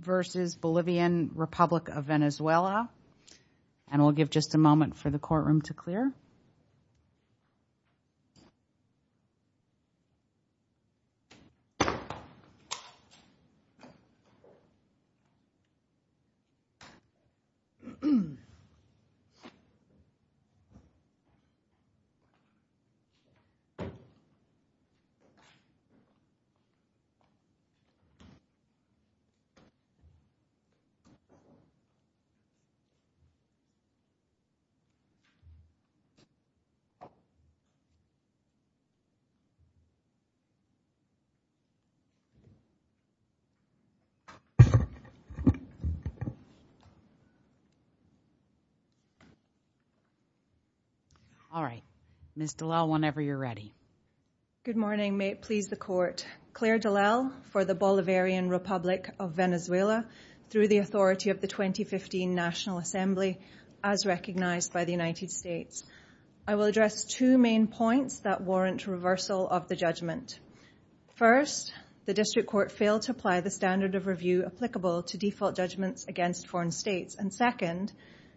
versus Bolivian Republic of Venezuela and we'll give just a moment for the courtroom to clear. All right, Ms. Dallal, whenever you're ready. Good morning, may it please the court. Claire Dallal for the Bolivarian Republic of Venezuela through the authority of the 2015 National Assembly as recognized by the United States. I will address two main points that warrant reversal of the judgment. First, the district court failed to apply the standard of review applicable to default judgments against foreign states. And second,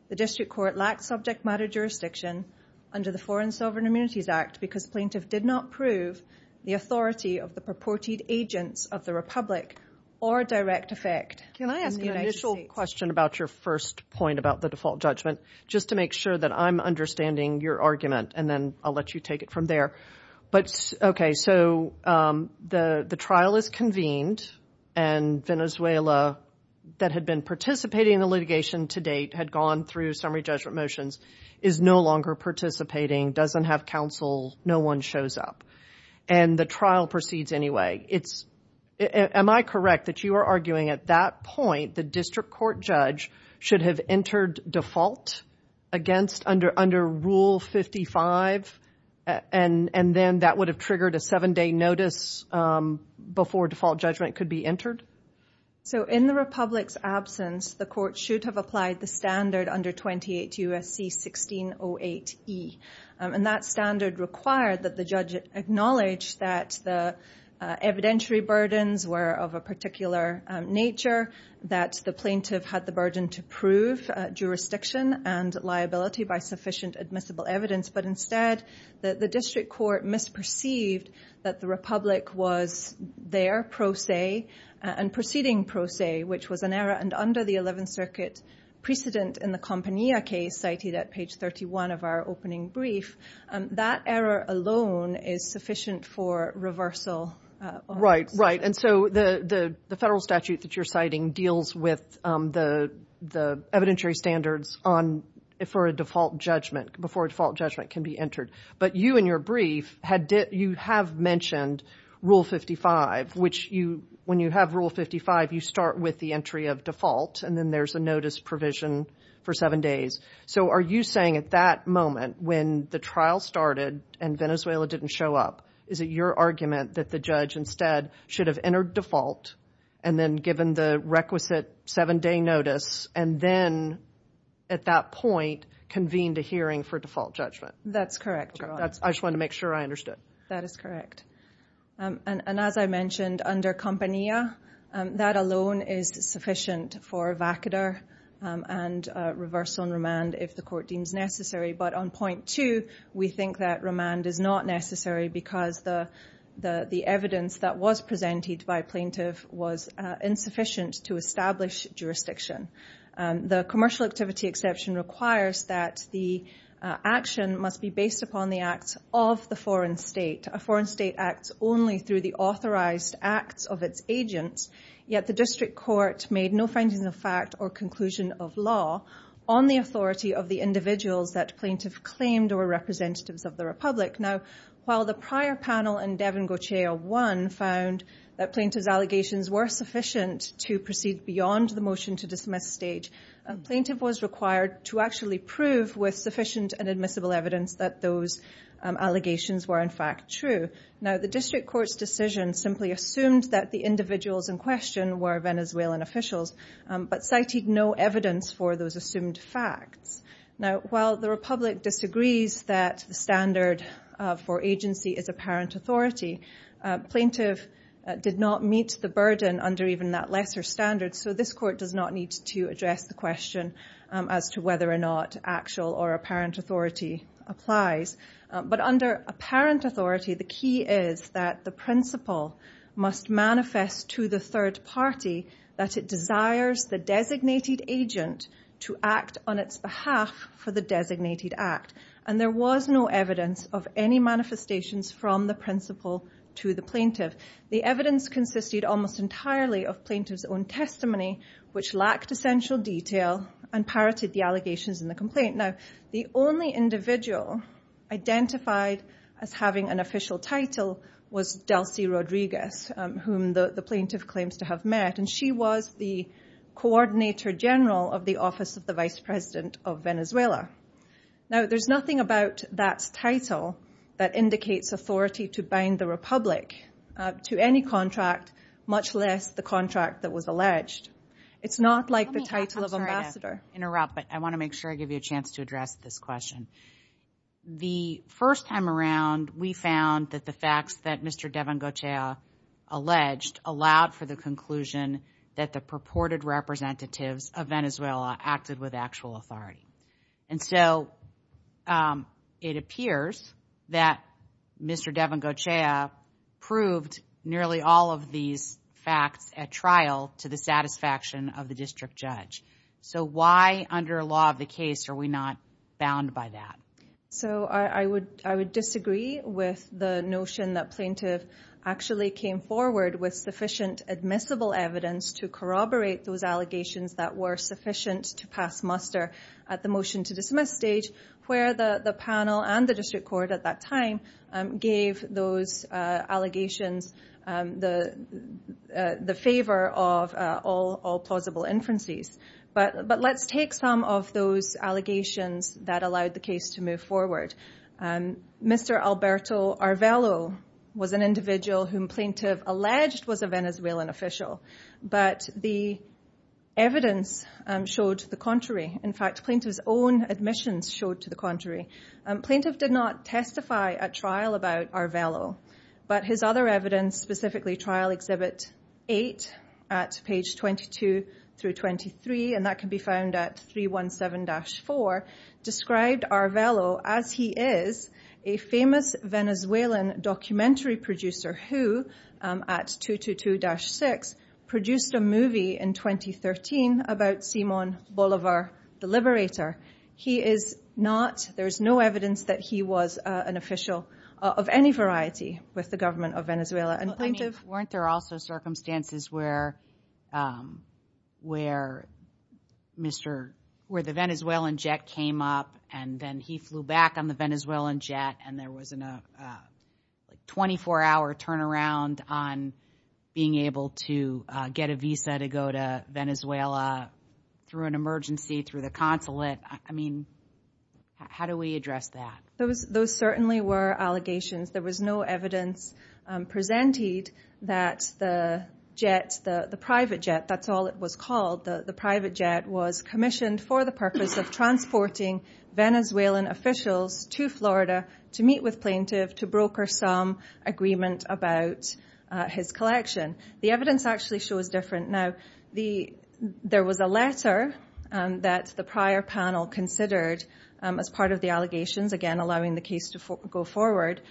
the district court lacked subject matter jurisdiction under the Foreign Sovereign Immunities Act because plaintiff did not prove the authority of the purported agents of the Republic or direct effect. Can I ask an initial question about your first point about the default judgment? Just to make sure that I'm understanding your argument and then I'll let you take it from there. But OK, so the trial is convened and Venezuela that had been participating in the litigation to date had gone through summary judgment motions, is no longer participating, doesn't have counsel, no one shows up and the trial proceeds anyway. It's am I correct that you are arguing at that point the district court judge should have entered default against under under Rule 55 and then that would have triggered a seven day notice before default judgment could be entered? So in the Republic's absence, the court should have applied the standard under 28 U.S.C. 1608E. And that standard required that the judge acknowledge that the evidentiary burdens were of a particular nature, that the plaintiff had the burden to prove jurisdiction and liability by sufficient admissible evidence. But instead, the district court misperceived that the Republic was there pro se and proceeding pro se, which was an error. And under the 11th Circuit precedent in the Compania case cited at page 31 of our opening brief, that error alone is sufficient for reversal. Right. Right. And so the the federal statute that you're citing deals with the the evidentiary standards on it for a default judgment before a default judgment can be entered. But you and your brief had did you have mentioned Rule 55, which you when you have Rule 55, you start with the entry of default and then there's a notice provision for seven days. So are you saying at that moment when the trial started and Venezuela didn't show up, is it your argument that the judge instead should have entered default and then given the requisite seven day notice and then at that point convened a hearing for default judgment? That's correct. That's I just want to make sure I understood. That is correct. And as I mentioned under Compania, that alone is sufficient for vacador and reversal and remand if the court deems necessary. But on point two, we think that remand is not necessary because the the the evidence that was presented by plaintiff was insufficient to establish jurisdiction. The commercial activity exception requires that the action must be based upon the acts of the foreign state. A foreign state acts only through the authorized acts of its agents. Yet the district court made no findings of fact or conclusion of law on the authority of the individuals that plaintiff claimed or representatives of the Republic. Now, while the prior panel and Devin Gauthier one found that plaintiff's allegations were sufficient to proceed beyond the motion to dismiss stage, plaintiff was required to actually prove with sufficient and admissible evidence that those allegations were in fact true. Now, the district court's decision simply assumed that the individuals in question were Venezuelan officials, but cited no evidence for those assumed facts. Now, while the Republic disagrees that the standard for agency is apparent authority, plaintiff did not meet the burden under even that lesser standard. So this court does not need to address the question as to whether or not actual or apparent authority applies. But under apparent authority, the key is that the principle must manifest to the third party that it desires the designated agent to act on its behalf for the designated act. And there was no evidence of any lack of essential detail and parroted the allegations in the complaint. Now, the only individual identified as having an official title was Delcy Rodriguez, whom the plaintiff claims to have met. And she was the coordinator general of the Office of the Vice President of Venezuela. Now, there's nothing about that title that indicates authority to bind the Republic to any contract, much less the contract that was alleged. It's not like the title of ambassador. Interrupt, but I want to make sure I give you a chance to address this question. The first time around, we found that the facts that Mr. Devon Goetia alleged allowed for the conclusion that the purported representatives of Venezuela acted with actual authority. And so it appears that Mr. Devon Goetia proved nearly all of these facts at trial to the satisfaction of the district judge. So why, under law of the case, are we not bound by that? So I would I would disagree with the notion that plaintiff actually came forward with sufficient admissible evidence to corroborate those allegations that were sufficient to pass muster at the motion to dismiss stage, where the panel and the district court at that time, gave those allegations the favor of all plausible inferences. But but let's take some of those allegations that allowed the case to move forward. And Mr. Alberto are Velo was an individual whom plaintiff alleged was a Venezuelan official. But the evidence showed the contrary. In fact, plaintiff's own admissions showed to the contrary, plaintiff did not testify at trial about our Velo. But his other evidence specifically trial exhibit eight at page 22 through 23. And that can be found at 317 dash four described our Velo as he is a famous Venezuelan documentary producer who at 222 dash six produced a movie in 2013 about Simon Bolivar, the liberator, he is not there's no evidence that he was an official of any variety with the government of Venezuela and plaintiff weren't there also circumstances where where Mr. where the Venezuelan jet came up and then he flew back on the Venezuelan jet and there was a 24 hour turnaround on being able to get a visa to go to Venezuela through an emergency through the consulate. I mean, how do we address that? Those those certainly were allegations. There was no evidence presented that the jet, the private jet, that's all it was called the private jet was commissioned for the purpose of transporting Venezuelan officials to Florida to meet with plaintiff to broker some agreement about his collection. The evidence actually shows different. Now, the there was a letter that the prior panel considered as part of the allegations, again, allowing the case to go forward,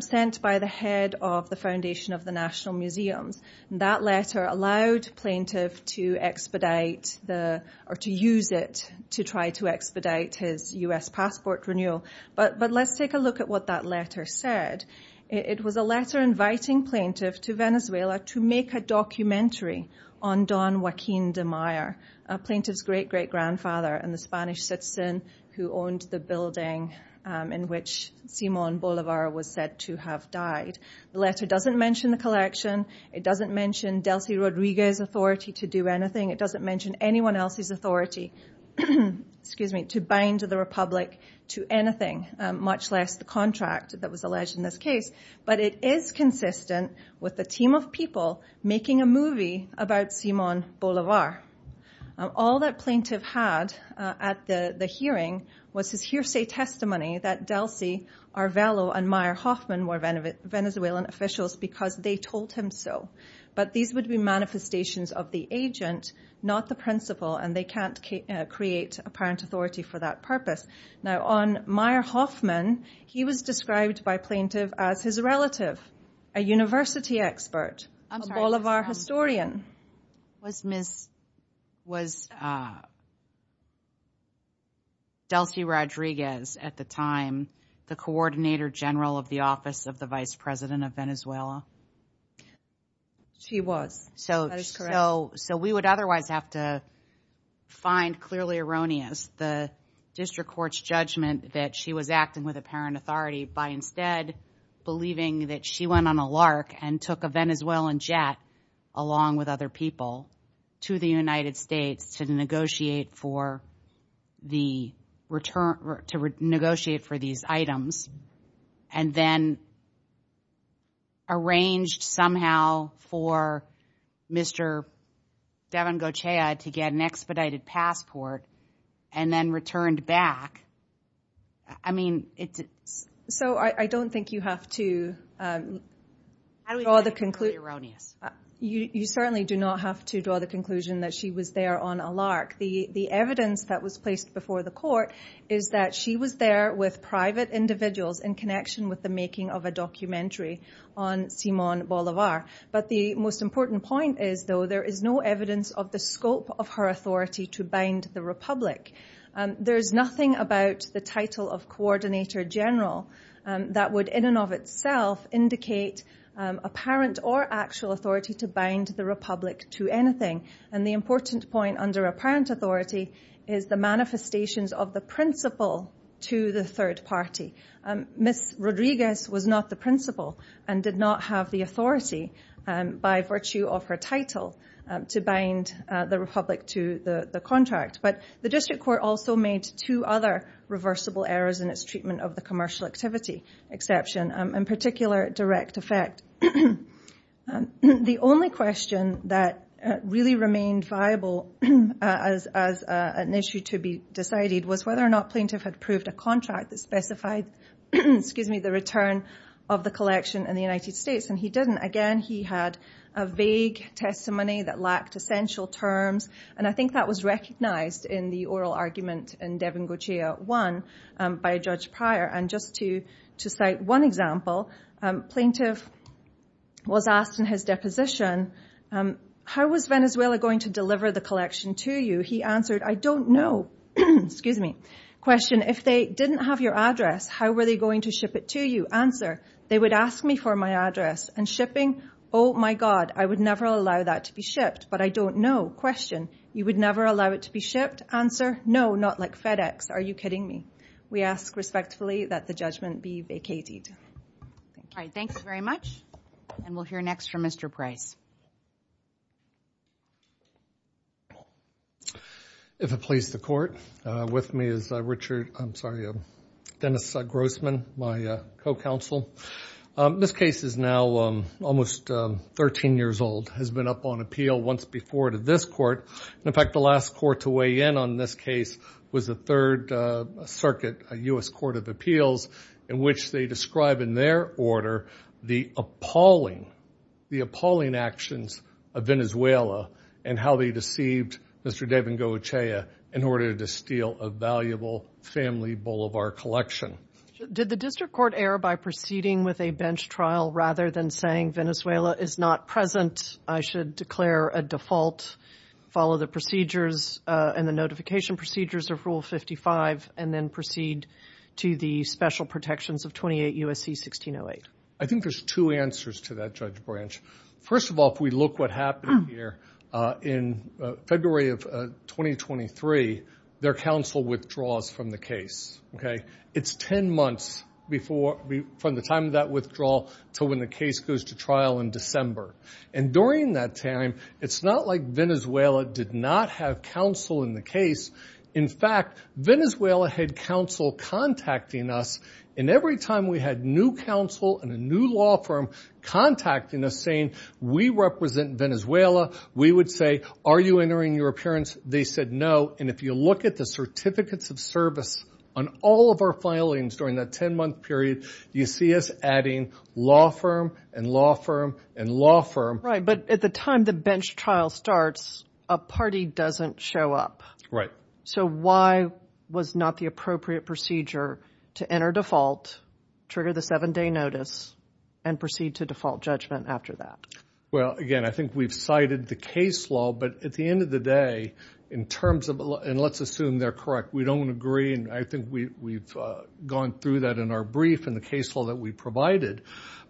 sent by the head of the Foundation of the National Museums. That letter allowed plaintiff to expedite the or to use it to try to expedite his U.S. passport renewal. But but let's take a look at what that letter said. It was a letter inviting plaintiff to Venezuela to make a documentary on Don Joaquin de Meyer, a plaintiff's great great grandfather and the Spanish citizen who owned the building in which Simon Bolivar was said to have died. The letter doesn't mention the collection. It doesn't mention Delsi Rodriguez authority to do anything. It doesn't mention anyone else's authority to bind the Republic to anything, much less the contract that was alleged in this case. But it is consistent with the team of people making a movie about Simon Bolivar. All that plaintiff had at the hearing was his hearsay testimony that Delsi, Arvelo and Meyer Hoffman were Venezuelan officials because they told him so. But these would be manifestations of the agent, not the principal. And they can't create apparent authority for that purpose. Now, on Meyer Hoffman, he was described by plaintiff as his relative, a university expert, a Bolivar historian. Was Miss, was Delsi Rodriguez at the time the coordinator general of the office of the vice president of Venezuela? She was. So so so we would otherwise have to find clearly erroneous the district court's judgment that she was acting with apparent authority by instead believing that she went on a lark and took a Venezuelan jet along with other people to the United States to negotiate for the return to negotiate for these items and then arranged somehow for Mr. Devon Goetia to get an expedited passport and then returned back. I mean, it's so I don't think you have to draw the conclusion erroneous. You certainly do not have to draw the conclusion that she was there on a lark. The the evidence that was placed before the court is that she was there with private individuals in connection with the making of the of a documentary on Simon Bolivar. But the most important point is, though, there is no evidence of the scope of her authority to bind the republic. There's nothing about the title of coordinator general that would in and of itself indicate apparent or actual authority to bind the republic to anything. And the important point under apparent authority is the manifestations of the principle to the third party. Ms. Rodriguez was not the principal and did not have the authority by virtue of her title to bind the republic to the contract. But the district court also made two other reversible errors in its treatment of the commercial activity exception, in particular, direct effect. The only question that really remained viable as an issue to be decided was whether or not plaintiff had proved a contract that specified the return of the collection in the United States. And he didn't. Again, he had a vague testimony that lacked essential terms. And I think that was recognized in the oral argument in Devon Goetia 1 by Judge Pryor. And just to cite one example, plaintiff was asked in his deposition, how was Venezuela going to deliver the collection to you? He answered, I don't know. Excuse me. Question, if they didn't have your address, how were they going to ship it to you? Answer, they would ask me for my address and shipping. Oh, my God, I would never allow that to be shipped. But I don't know. Question, you would never allow it to be shipped? Answer, no, not like FedEx. Are you kidding me? We ask respectfully that the judgment be vacated. All right. Thank you very much. And we'll hear next from Mr. Price. If it please the court, with me is Richard, I'm sorry, Dennis Grossman, my co-counsel. This case is now almost 13 years old, has been up on appeal once before to this court. In fact, the last court to weigh in on this case was the Third Circuit, a U.S. Court of Appeals, in which they describe in their order the appalling, the appalling act of the United States. The appalling actions of Venezuela and how they deceived Mr. Devin Goetia in order to steal a valuable family boulevard collection. Did the district court err by proceeding with a bench trial rather than saying Venezuela is not present, I should declare a default, follow the procedures and the notification procedures of Rule 55, and then proceed to the special protections of 28 U.S.C. 1608? I think there's two answers to that, Judge Branch. First of all, if we look what happened here in February of 2023, their counsel withdraws from the case. It's 10 months from the time of that withdrawal to when the case goes to trial in December. And during that time, it's not like Venezuela did not have counsel in the case. In fact, Venezuela had counsel contacting us, and every time we had new counsel and a new law firm contacting us saying, we represent Venezuela, we would say, are you entering your appearance? They said no, and if you look at the certificates of service on all of our filings during that 10-month period, you see us adding law firm and law firm and law firm. Right, but at the time the bench trial starts, a party doesn't show up. Right. So why was not the appropriate procedure to enter default, trigger the seven-day notice, and proceed to default judgment after that? Well, again, I think we've cited the case law, but at the end of the day, in terms of, and let's assume they're correct. We don't agree, and I think we've gone through that in our brief in the case law that we provided.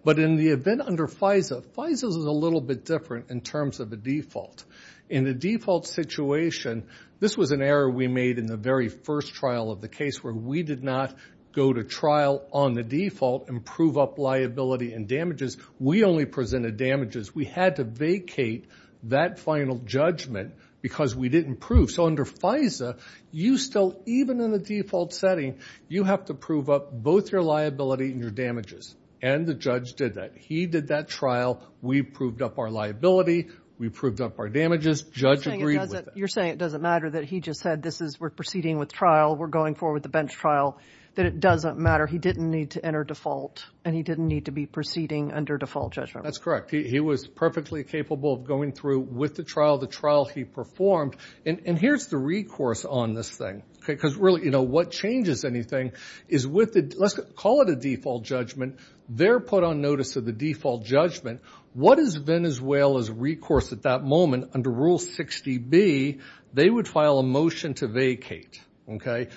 But in the event under FISA, FISA is a little bit different in terms of a default. In the default situation, this was an error we made in the very first trial of the case where we did not go to trial on the default and prove up liability and damages. We only presented damages. We had to vacate that final judgment because we didn't prove. So under FISA, you still, even in the default setting, you have to prove up both your liability and your damages, and the judge did that. He did that trial. We proved up our liability. We proved up our damages. Judge agreed with that. You're saying it doesn't matter that he just said this is, we're proceeding with trial, we're going forward with the bench trial, that it doesn't matter. He didn't need to enter default, and he didn't need to be proceeding under default judgment. That's correct. He was perfectly capable of going through with the trial the trial he performed. And here's the recourse on this thing, because really, you know, what changes anything is with the, let's call it a default judgment. They're put on notice of the default judgment. What is Venezuela's recourse at that moment? Under Rule 60B, they would file a motion to vacate.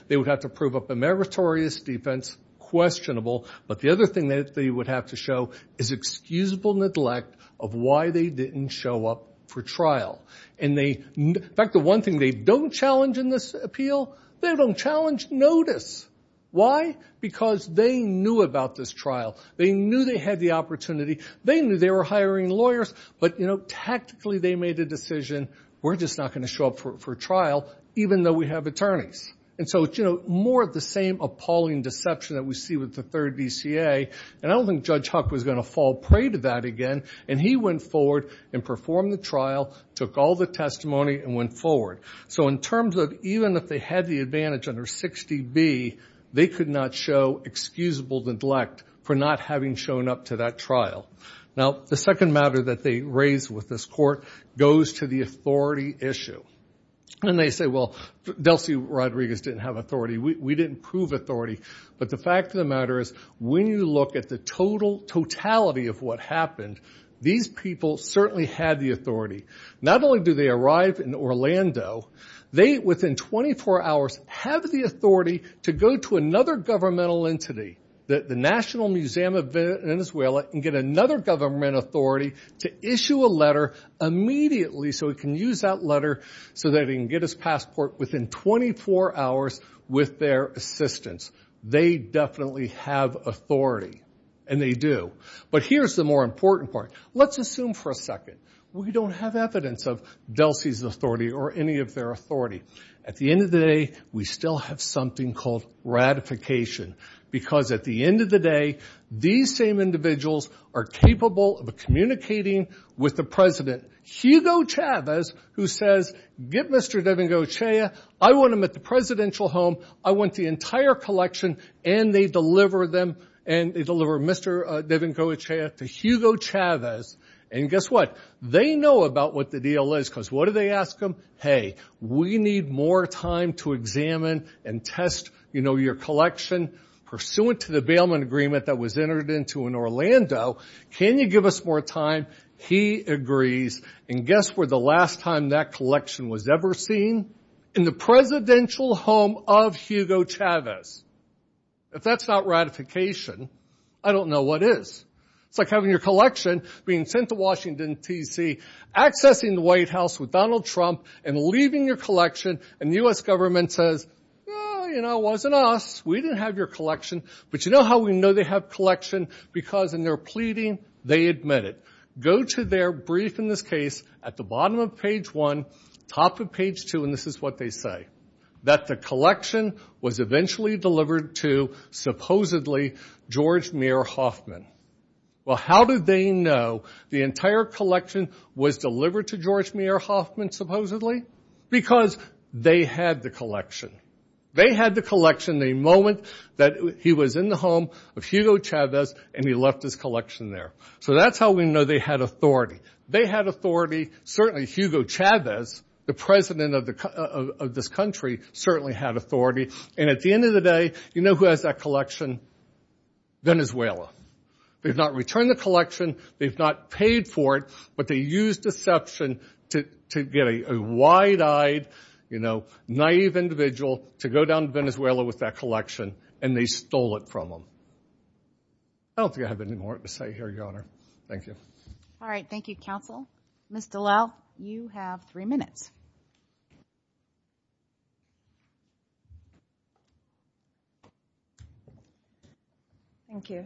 They would have to prove up a meritorious defense, questionable. But the other thing that they would have to show is excusable neglect of why they didn't show up for trial. In fact, the one thing they don't challenge in this appeal, they don't challenge notice. Why? Because they knew about this trial. They knew they had the opportunity. They knew they were hiring lawyers. But, you know, tactically, they made a decision, we're just not going to show up for trial, even though we have attorneys. And so it's, you know, more of the same appalling deception that we see with the third DCA. And I don't think Judge Huck was going to fall prey to that again. And he went forward and performed the trial, took all the testimony, and went forward. So in terms of even if they had the advantage under 60B, they could not show excusable neglect for not having shown up to that trial. Now, the second matter that they raise with this court goes to the authority issue. And they say, well, Delcy Rodriguez didn't have authority. We didn't prove authority. But the fact of the matter is when you look at the totality of what happened, these people certainly had the authority. Not only do they arrive in Orlando, they, within 24 hours, have the authority to go to another governmental entity, the National Museum of Venezuela, and get another government authority to issue a letter immediately so he can use that letter so that he can get his passport within 24 hours with their assistance. They definitely have authority. And they do. But here's the more important part. Let's assume for a second we don't have evidence of Delcy's authority or any of their authority. At the end of the day, we still have something called ratification. Because at the end of the day, these same individuals are capable of communicating with the president, Hugo Chavez, who says, get Mr. Devengo Echea. I want him at the presidential home. I want the entire collection. And they deliver them. And they deliver Mr. Devengo Echea to Hugo Chavez. And guess what? They know about what the deal is because what do they ask him? Hey, we need more time to examine and test, you know, your collection. Pursuant to the bailment agreement that was entered into in Orlando, can you give us more time? He agrees. And guess where the last time that collection was ever seen? In the presidential home of Hugo Chavez. If that's not ratification, I don't know what is. It's like having your collection being sent to Washington, D.C., accessing the White House with Donald Trump and leaving your collection, and the U.S. government says, well, you know, it wasn't us. We didn't have your collection. But you know how we know they have collection? Because in their pleading, they admit it. Go to their brief in this case at the bottom of page 1, top of page 2, and this is what they say, that the collection was eventually delivered to, supposedly, George Meir Hoffman. Well, how did they know the entire collection was delivered to George Meir Hoffman, supposedly? Because they had the collection. They had the collection the moment that he was in the home of Hugo Chavez and he left his collection there. So that's how we know they had authority. They had authority. Certainly, Hugo Chavez, the president of this country, certainly had authority. And at the end of the day, you know who has that collection? Venezuela. They've not returned the collection. They've not paid for it. But they used deception to get a wide-eyed, you know, naive individual to go down to Venezuela with that collection, and they stole it from them. I don't think I have any more to say here, Your Honor. Thank you. All right. Thank you, counsel. Ms. Dallal, you have three minutes. Thank you.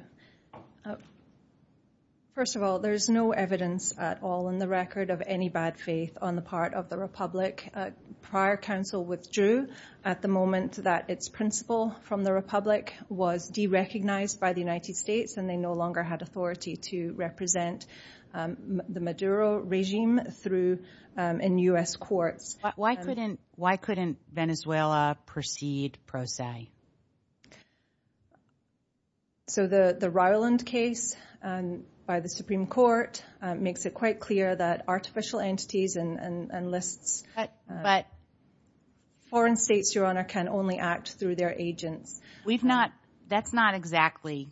First of all, there is no evidence at all in the record of any bad faith on the part of the Republic. Prior counsel withdrew at the moment that its principal from the Republic was derecognized by the United States, and they no longer had authority to represent the Maduro regime in U.S. courts. Why couldn't Venezuela proceed pro se? So the Rowland case by the Supreme Court makes it quite clear that artificial entities and lists, foreign states, Your Honor, can only act through their agents. That's not exactly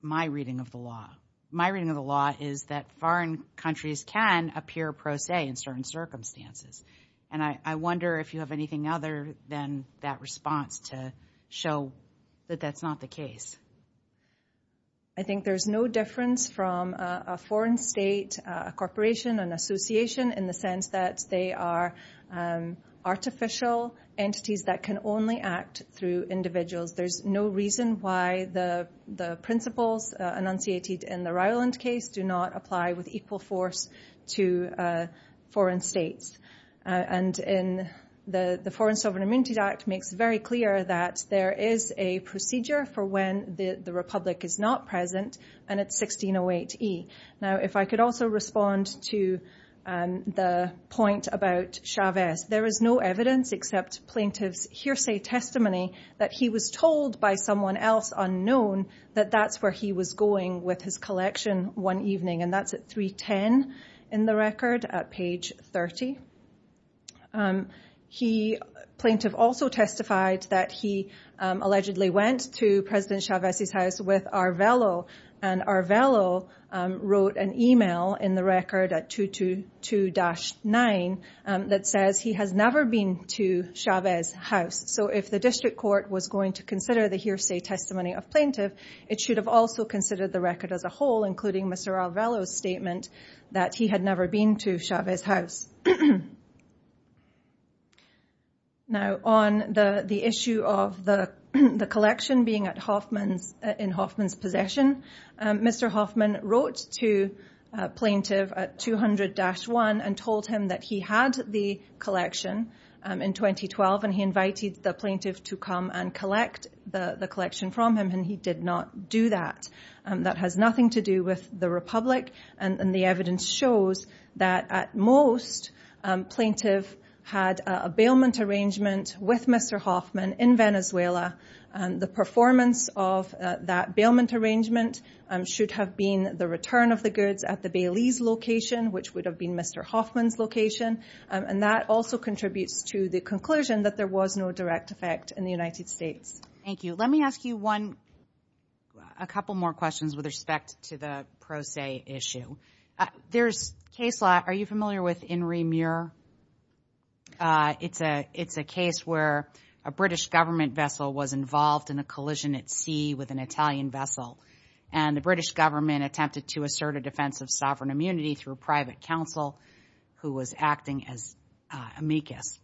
my reading of the law. My reading of the law is that foreign countries can appear pro se in certain circumstances. And I wonder if you have anything other than that response to show that that's not the case. I think there's no difference from a foreign state, a corporation, an association in the sense that they are artificial entities that can only act through individuals. There's no reason why the principles enunciated in the Rowland case do not apply with equal force to foreign states. And the Foreign Sovereign Immunities Act makes very clear that there is a procedure for when the Republic is not present, and it's 1608E. Now, if I could also respond to the point about Chavez. There is no evidence except plaintiff's hearsay testimony that he was told by someone else unknown that that's where he was going with his collection one evening. And that's at 310 in the record at page 30. The plaintiff also testified that he allegedly went to President Chavez's house with Arvelo, and Arvelo wrote an email in the record at 222-9 that says he has never been to Chavez's house. So if the district court was going to consider the hearsay testimony of plaintiff, it should have also considered the record as a whole, including Mr. Arvelo's statement that he had never been to Chavez's house. Now, on the issue of the collection being in Hoffman's possession, Mr. Hoffman wrote to plaintiff at 200-1 and told him that he had the collection in 2012, and he invited the plaintiff to come and collect the collection from him, and he did not do that. That has nothing to do with the Republic, and the evidence shows that at most plaintiff had a bailment arrangement with Mr. Hoffman in Venezuela. The performance of that bailment arrangement should have been the return of the goods at the Bailey's location, which would have been Mr. Hoffman's location, and that also contributes to the conclusion that there was no direct effect in the United States. Thank you. Let me ask you a couple more questions with respect to the pro se issue. There's case law. Are you familiar with Inri Muir? It's a case where a British government vessel was involved in a collision at sea with an Italian vessel, and the British government attempted to assert a defense of sovereign immunity through private counsel who was acting as amicus.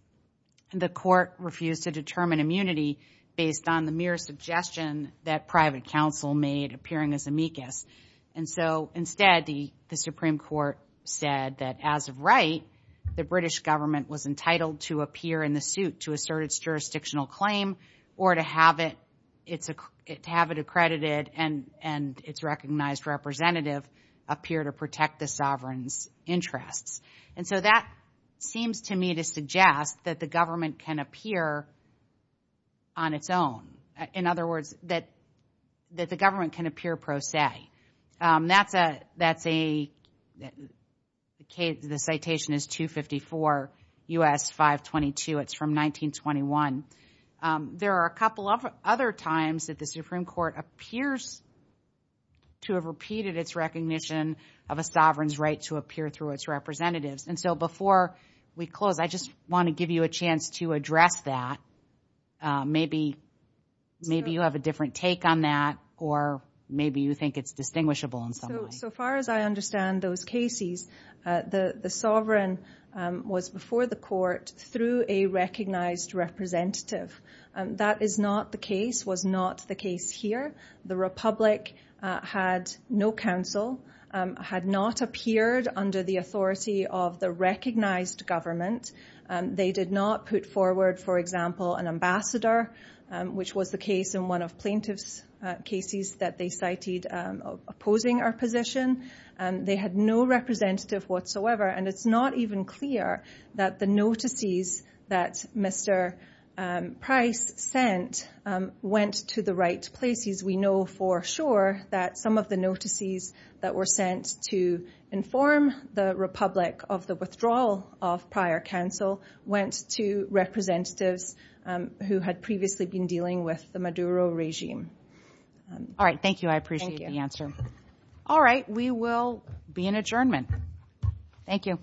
The court refused to determine immunity based on the mere suggestion that private counsel made appearing as amicus, and so instead the Supreme Court said that as of right, the British government was entitled to appear in the suit to assert its jurisdictional claim or to have it accredited and its recognized representative appear to protect the sovereign's interests. And so that seems to me to suggest that the government can appear on its own. In other words, that the government can appear pro se. That's a case. The citation is 254 U.S. 522. It's from 1921. There are a couple of other times that the Supreme Court appears to have repeated its recognition of a sovereign's right to appear through its representatives. And so before we close, I just want to give you a chance to address that. Maybe you have a different take on that or maybe you think it's distinguishable in some way. So far as I understand those cases, the sovereign was before the court through a recognized representative. That is not the case, was not the case here. The republic had no counsel, had not appeared under the authority of the recognized government. They did not put forward, for example, an ambassador, which was the case in one of plaintiff's cases that they cited opposing our position. They had no representative whatsoever. And it's not even clear that the notices that Mr. Price sent went to the right places. We know for sure that some of the notices that were sent to inform the republic of the withdrawal of prior counsel went to representatives who had previously been dealing with the Maduro regime. All right. Thank you. I appreciate the answer. All right. We will be in adjournment. Thank you.